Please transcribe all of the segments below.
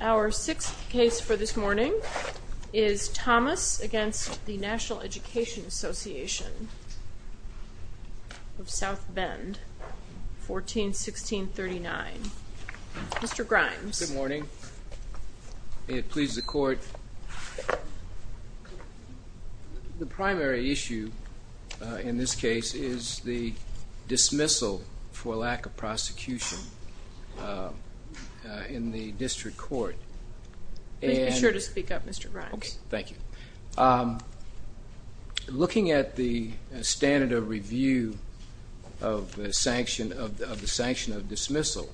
Our sixth case for this morning is Thomas v. National Education Association, South Bend, 14-1639. Mr. Grimes. Good morning. May it please the court. The primary issue in this case is the dismissal for lack of prosecution in the district court. Make sure to speak up, Mr. Grimes. Okay, thank you. Looking at the standard of review of the sanction of dismissal,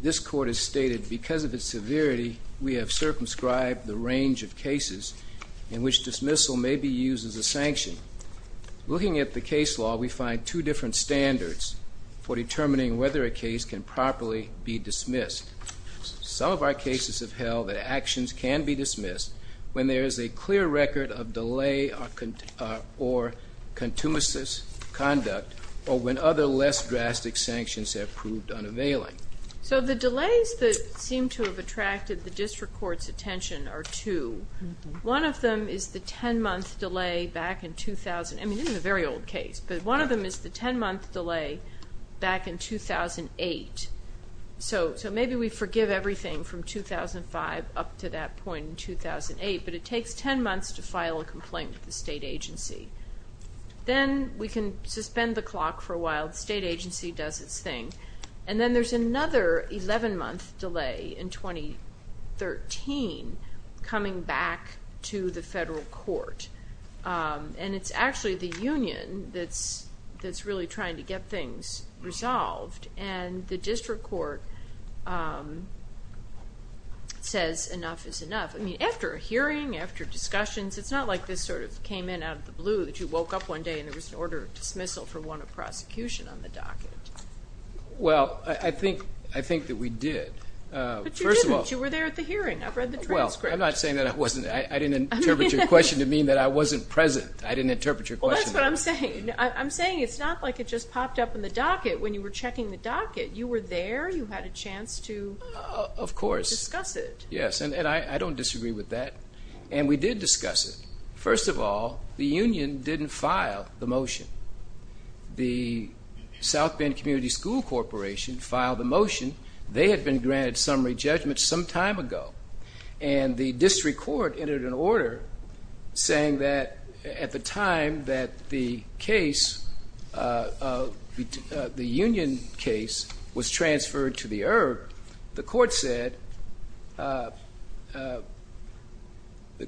this court has stated because of its severity, we have circumscribed the range of cases in which dismissal may be used as a sanction. Looking at the case law, we find two different standards for determining whether a case can properly be dismissed. Some of our cases have held that actions can be dismissed when there is a clear record of delay or contumous conduct or when other less drastic sanctions have proved unavailing. So the delays that seem to have attracted the district court's attention are two. One of them is the 10-month delay back in 2008. So maybe we forgive everything from 2005 up to that point in 2008, but it takes 10 months to file a complaint with the state agency. Then we can suspend the clock for a while. The state agency does its thing. And then there's another 11-month delay in 2013 coming back to the federal court. And it's actually the union that's really trying to get things resolved. And the district court says enough is enough. I mean, after a hearing, after discussions, it's not like this sort of came in out of the blue that you woke up one day and there was an order of dismissal for one of prosecution on the docket. Well, I think that we did. But you didn't. You were there at the hearing. I've read the transcript. Well, I'm not saying that I wasn't. I didn't interpret your question to mean that I wasn't present. I didn't interpret your question. Well, that's what I'm saying. I'm saying it's not like it just popped up in the docket when you were checking the docket. You were there. You had a chance to discuss it. Of course. Yes. And I don't disagree with that. And we did discuss it. First of all, the union didn't file the motion. The South Bend Community School Corporation filed the motion. They had been granted summary judgment some time ago. And the district court entered an order saying that at the time that the case, the union case, was transferred to the ERB, the court said the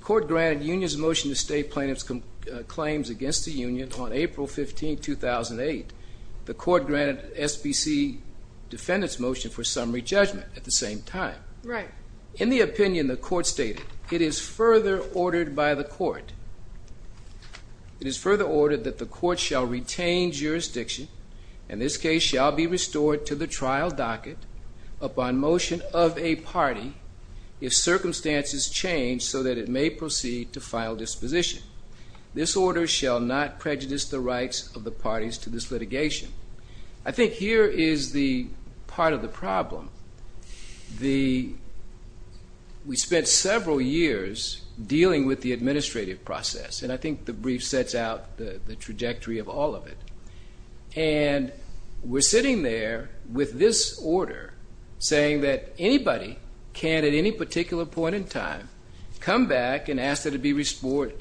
court granted unions a motion to stay plaintiff's claims against the union on April 15, 2008. The court granted SBC defendant's motion for summary judgment at the same time. Right. In the opinion, the court stated, it is further ordered by the court. It is further ordered that the court shall retain jurisdiction and this case shall be restored to the trial docket upon motion of a party if circumstances change so that it may proceed to final disposition. This order shall not prejudice the rights of the parties to this litigation. I think here is the part of the problem. We spent several years dealing with the administrative process, and I think the brief sets out the trajectory of all of it. And we're sitting there with this order saying that anybody can, at any particular point in time, come back and ask that it be restored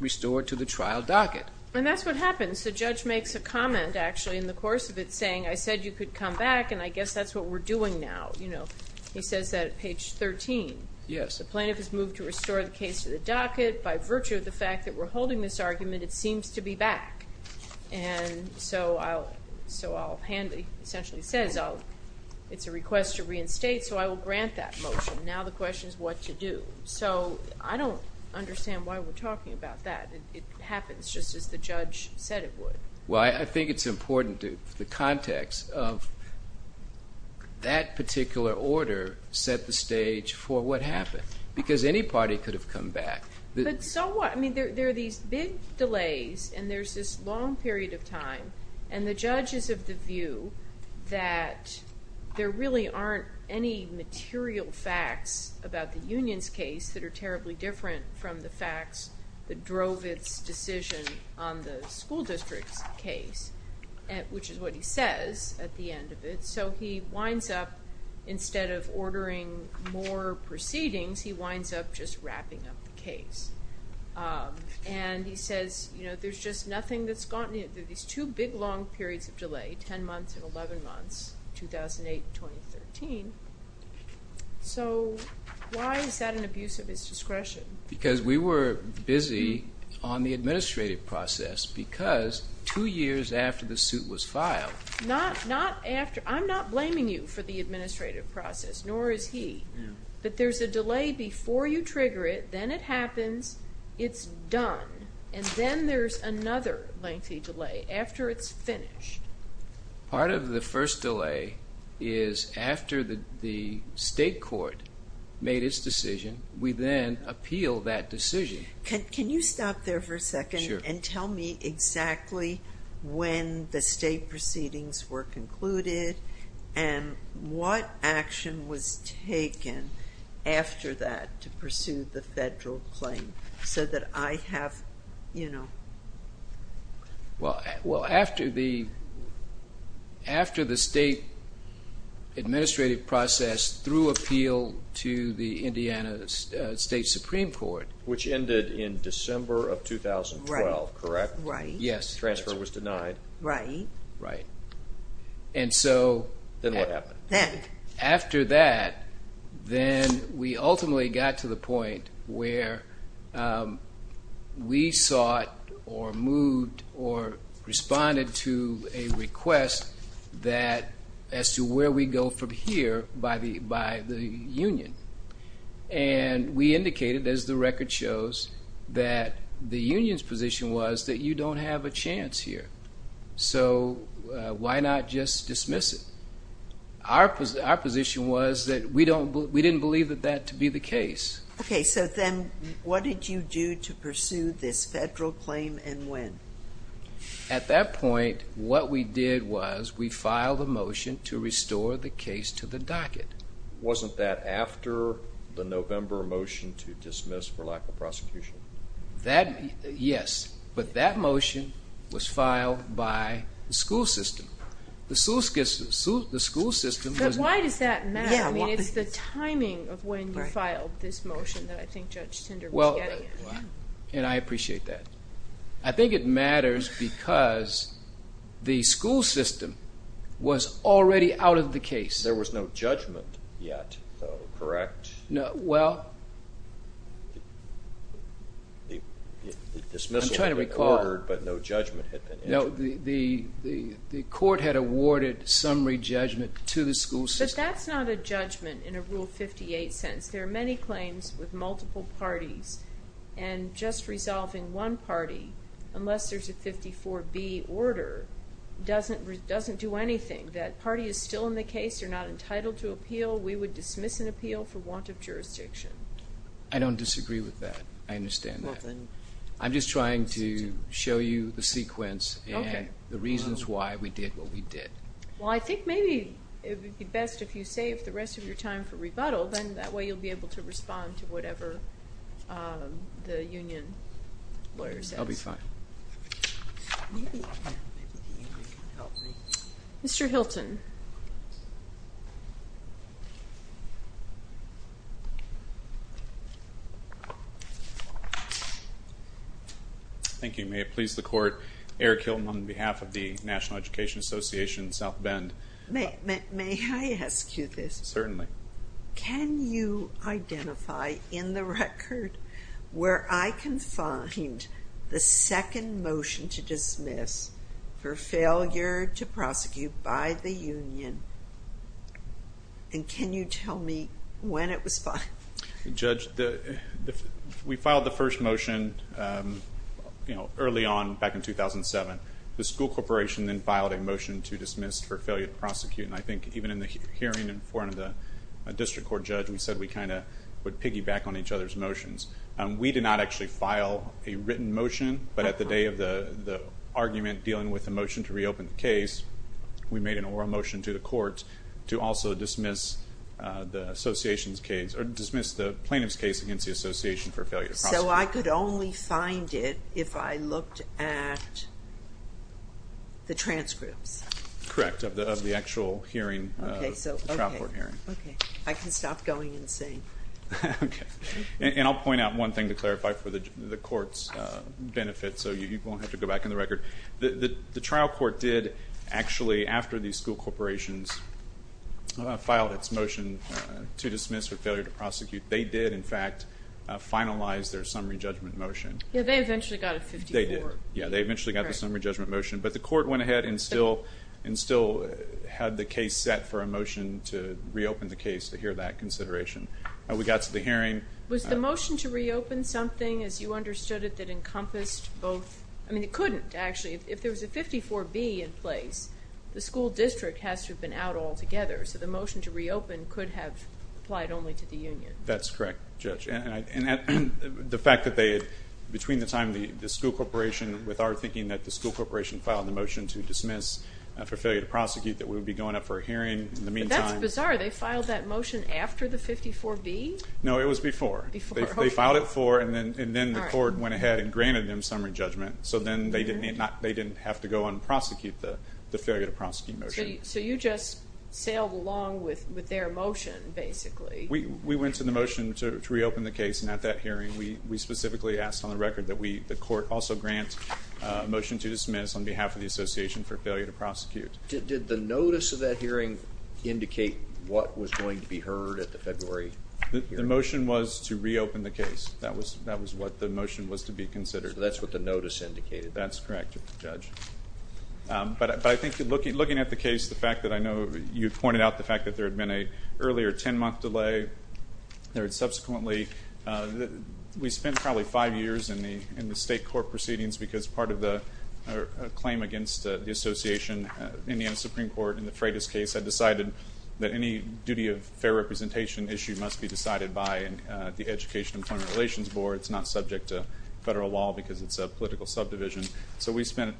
to the trial docket. And that's what happens. The judge makes a comment, actually, in the course of it, saying, I said you could come back, and I guess that's what we're doing now. You know, he says that at page 13. Yes. The plaintiff has moved to restore the case to the docket by virtue of the fact that we're holding this argument. It seems to be back. And so I'll, so I'll hand, he essentially says, it's a request to reinstate, so I will grant that motion. Now the question is what to do. So I don't understand why we're talking about that. It happens just as the judge said it would. Well, I think it's important to the context of that particular order set the stage for what happened, because any party could have come back. But so what? I mean, there are these big delays, and there's this long period of time. And the judge is of the view that there really aren't any material facts about the union's case that are terribly different from the facts that drove its decision on the school district's case, which is what he says at the end of it. And so he winds up, instead of ordering more proceedings, he winds up just wrapping up the case. And he says, you know, there's just nothing that's gotten, there's these two big long periods of delay, 10 months and 11 months, 2008 and 2013. So why is that an abuse of his discretion? Because we were busy on the administrative process, because two years after the suit was filed. I'm not blaming you for the administrative process, nor is he. But there's a delay before you trigger it, then it happens, it's done, and then there's another lengthy delay after it's finished. Part of the first delay is after the state court made its decision, we then appeal that decision. Can you stop there for a second and tell me exactly when the state proceedings were concluded and what action was taken after that to pursue the federal claim? So that I have, you know. Well, after the state administrative process through appeal to the Indiana State Supreme Court. Which ended in December of 2012, correct? Right. Yes. Transfer was denied. Right. Right. And so. Then what happened? After that, then we ultimately got to the point where we sought or moved or responded to a request that as to where we go from here by the union. And we indicated, as the record shows, that the union's position was that you don't have a chance here. So why not just dismiss it? Our position was that we didn't believe that that to be the case. Okay, so then what did you do to pursue this federal claim and when? At that point, what we did was we filed a motion to restore the case to the docket. Wasn't that after the November motion to dismiss for lack of prosecution? Yes, but that motion was filed by the school system. The school system. But why does that matter? I mean, it's the timing of when you filed this motion that I think Judge Tinder was getting at. And I appreciate that. I think it matters because the school system was already out of the case. There was no judgment yet, though, correct? Well, I'm trying to recall. The dismissal had been ordered, but no judgment had been entered. No, the court had awarded summary judgment to the school system. But that's not a judgment in a Rule 58 sentence. There are many claims with multiple parties, and just resolving one party, unless there's a 54B order, doesn't do anything. That party is still in the case. They're not entitled to appeal. We would dismiss an appeal for want of jurisdiction. I don't disagree with that. I understand that. I'm just trying to show you the sequence and the reasons why we did what we did. Well, I think maybe it would be best if you saved the rest of your time for rebuttal. Then that way you'll be able to respond to whatever the union lawyer says. I'll be fine. Maybe the union can help me. Mr. Hilton. Thank you. May it please the Court, Eric Hilton on behalf of the National Education Association, South Bend. May I ask you this? Certainly. Can you identify in the record where I can find the second motion to dismiss for failure to prosecute by the union? And can you tell me when it was filed? Judge, we filed the first motion early on, back in 2007. The school corporation then filed a motion to dismiss for failure to prosecute. And I think even in the hearing in front of the district court judge, we said we kind of would piggyback on each other's motions. We did not actually file a written motion. But at the day of the argument dealing with the motion to reopen the case, we made an oral motion to the court to also dismiss the plaintiff's case against the association for failure to prosecute. So I could only find it if I looked at the transcripts? Correct, of the actual hearing, the trial court hearing. Okay. I can stop going insane. Okay. And I'll point out one thing to clarify for the court's benefit so you won't have to go back in the record. The trial court did actually, after these school corporations filed its motion to dismiss for failure to prosecute, they did, in fact, finalize their summary judgment motion. Yeah, they eventually got a 54. They did. Yeah, they eventually got the summary judgment motion. But the court went ahead and still had the case set for a motion to reopen the case to hear that consideration. We got to the hearing. Was the motion to reopen something, as you understood it, that encompassed both? I mean, it couldn't, actually. If there was a 54B in place, the school district has to have been out altogether. So the motion to reopen could have applied only to the union. That's correct, Judge. And the fact that they had, between the time the school corporation, with our thinking that the school corporation filed the motion to dismiss for failure to prosecute, that we would be going up for a hearing in the meantime. But that's bizarre. They filed that motion after the 54B? No, it was before. Before. They filed it for, and then the court went ahead and granted them summary judgment. So then they didn't have to go and prosecute the failure to prosecute motion. So you just sailed along with their motion, basically. We went to the motion to reopen the case, and at that hearing we specifically asked on the record that the court also grant a motion to dismiss on behalf of the association for failure to prosecute. Did the notice of that hearing indicate what was going to be heard at the February hearing? The motion was to reopen the case. That was what the motion was to be considered. So that's what the notice indicated? That's correct, Judge. But I think looking at the case, the fact that I know you pointed out the fact that there had been an earlier 10-month delay, there had subsequently, we spent probably five years in the state court proceedings because part of the claim against the association, Indiana Supreme Court, in the Freitas case, had decided that any duty of fair representation issue must be decided by the Education Employment Relations Board. It's not subject to federal law because it's a political subdivision. So we spent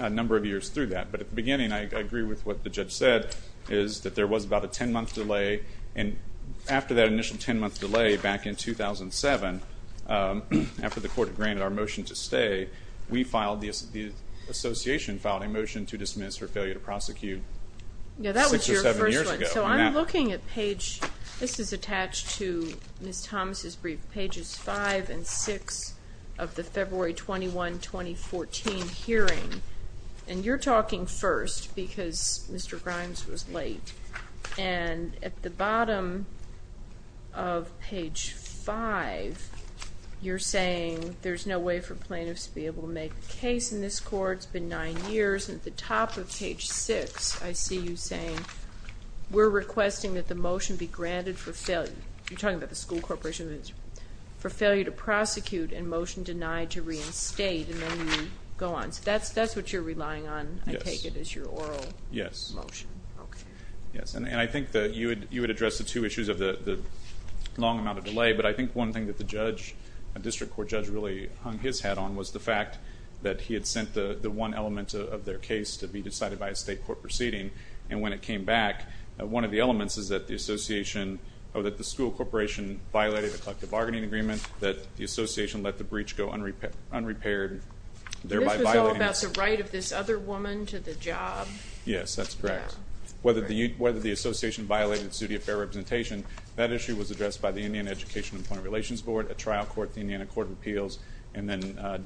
a number of years through that. But at the beginning, I agree with what the judge said, is that there was about a 10-month delay, and after that initial 10-month delay back in 2007, after the court granted our motion to stay, the association filed a motion to dismiss for failure to prosecute six or seven years ago. So I'm looking at page, this is attached to Ms. Thomas' brief, pages 5 and 6 of the February 21, 2014 hearing, and you're talking first because Mr. Grimes was late. And at the bottom of page 5, you're saying there's no way for plaintiffs to be able to make a case in this court, it's been nine years, and at the top of page 6, I see you saying, we're requesting that the motion be granted for failure, you're talking about the school corporation, for failure to prosecute and motion denied to reinstate, and then you go on. So that's what you're relying on, I take it, is your oral motion. Yes. Okay. Yes, and I think that you had addressed the two issues of the long amount of delay, but I think one thing that the judge, a district court judge really hung his hat on, was the fact that he had sent the one element of their case to be decided by a state court proceeding, and when it came back, one of the elements is that the association, or that the school corporation violated a collective bargaining agreement, that the association let the breach go unrepaired, thereby violating. This was all about the right of this other woman to the job. Yes, that's correct. Whether the association violated the suit of fair representation, that issue was addressed by the Indian Education Employment Relations Board, a trial court, the Indiana Court of Appeals, and then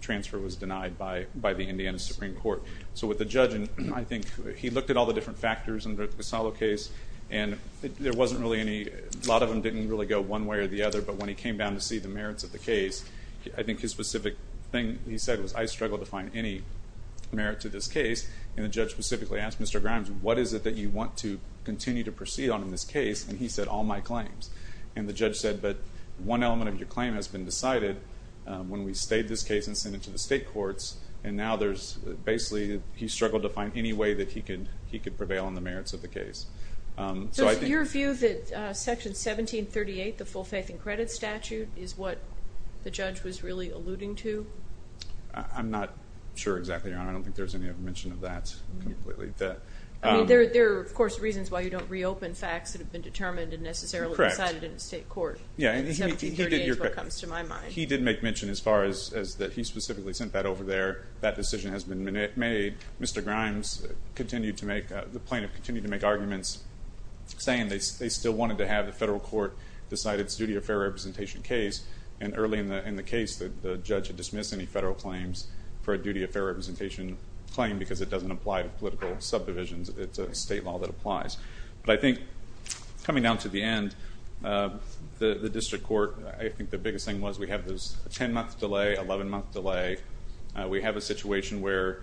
transfer was denied by the Indiana Supreme Court. So with the judge, I think he looked at all the different factors in the Casalo case, and there wasn't really any, a lot of them didn't really go one way or the other, but when he came down to see the merits of the case, I think his specific thing he said was, I struggle to find any merit to this case, and the judge specifically asked Mr. Grimes, what is it that you want to continue to proceed on in this case? And he said, all my claims. And the judge said, but one element of your claim has been decided when we stayed this case and sent it to the state courts, and now there's basically, he struggled to find any way that he could prevail on the merits of the case. So your view that Section 1738, the full faith and credit statute, is what the judge was really alluding to? I'm not sure exactly, Your Honor. I don't think there's any mention of that completely. There are, of course, reasons why you don't reopen facts that have been determined and necessarily decided in the state court. Yeah, and he did make mention as far as that he specifically sent that over there. That decision has been made. Mr. Grimes continued to make, the plaintiff continued to make arguments, saying they still wanted to have the federal court decide its duty of fair representation case, and early in the case, the judge had dismissed any federal claims for a duty of fair representation claim because it doesn't apply to political subdivisions. It's a state law that applies. But I think coming down to the end, the district court, I think the biggest thing was we have this 10-month delay, 11-month delay. We have a situation where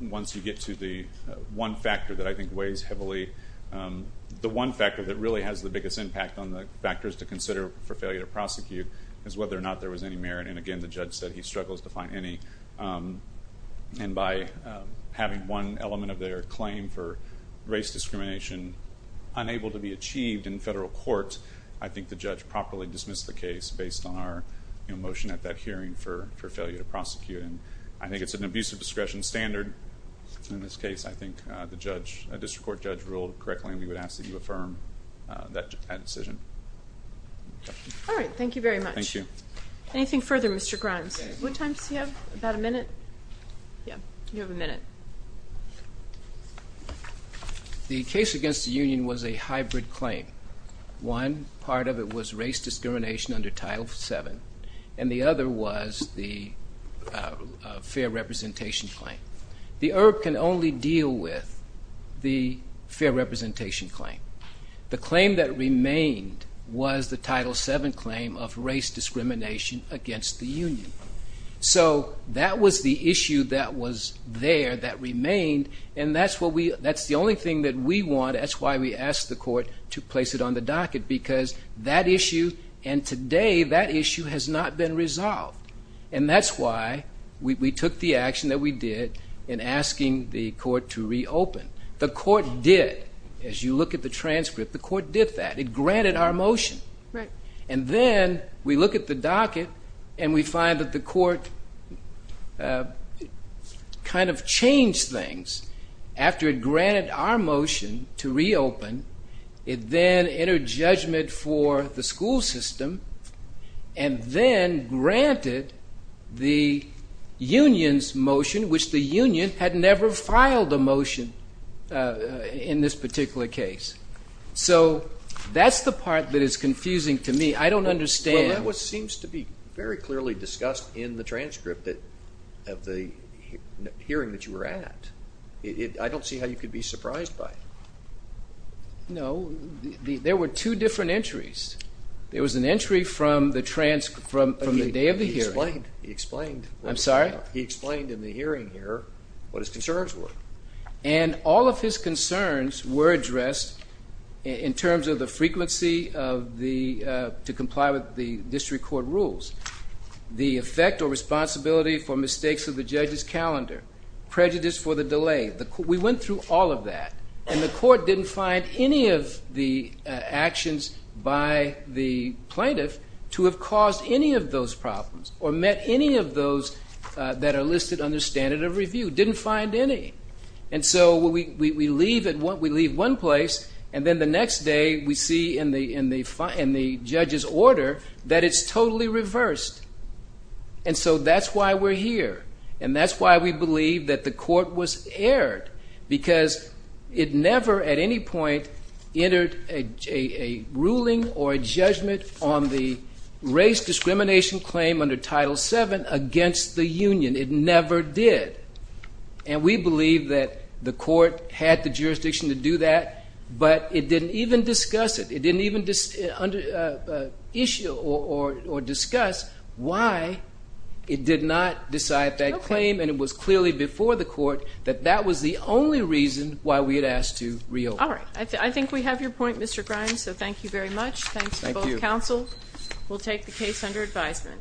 once you get to the one factor that I think weighs heavily, the one factor that really has the biggest impact on the factors to consider for failure to prosecute is whether or not there was any merit. And again, the judge said he struggles to find any. And by having one element of their claim for race discrimination unable to be achieved in federal court, I think the judge properly dismissed the case based on our motion at that hearing for failure to prosecute. And I think it's an abusive discretion standard. In this case, I think the district court judge ruled correctly, and we would ask that you affirm that decision. All right. Thank you very much. Thank you. Anything further, Mr. Grimes? What time does he have? About a minute? Yeah. You have a minute. The case against the union was a hybrid claim. One part of it was race discrimination under Title VII, and the other was the fair representation claim. The IRB can only deal with the fair representation claim. The claim that remained was the Title VII claim of race discrimination against the union. So that was the issue that was there that remained, and that's the only thing that we want. That's why we asked the court to place it on the docket, because that issue and today that issue has not been resolved. And that's why we took the action that we did in asking the court to reopen. The court did. As you look at the transcript, the court did that. It granted our motion. Right. And then we look at the docket and we find that the court kind of changed things. After it granted our motion to reopen, it then entered judgment for the school system and then granted the union's motion, which the union had never filed a motion in this particular case. So that's the part that is confusing to me. I don't understand. Well, that seems to be very clearly discussed in the transcript of the hearing that you were at. I don't see how you could be surprised by it. No. There were two different entries. There was an entry from the day of the hearing. He explained. I'm sorry? He explained in the hearing here what his concerns were. And all of his concerns were addressed in terms of the frequency to comply with the district court rules, the effect or responsibility for mistakes of the judge's calendar, prejudice for the delay. We went through all of that. And the court didn't find any of the actions by the plaintiff to have caused any of those problems or met any of those that are listed under standard of review. Didn't find any. And so we leave one place, and then the next day we see in the judge's order that it's totally reversed. And so that's why we're here. And that's why we believe that the court was aired, because it never at any point entered a ruling or a judgment on the race discrimination claim under Title VII against the union. It never did. And we believe that the court had the jurisdiction to do that, but it didn't even discuss it. It didn't even issue or discuss why it did not decide that claim, and it was clearly before the court that that was the only reason why we had asked to reopen. All right. I think we have your point, Mr. Grimes, so thank you very much. Thanks to both counsel. We'll take the case under advisement.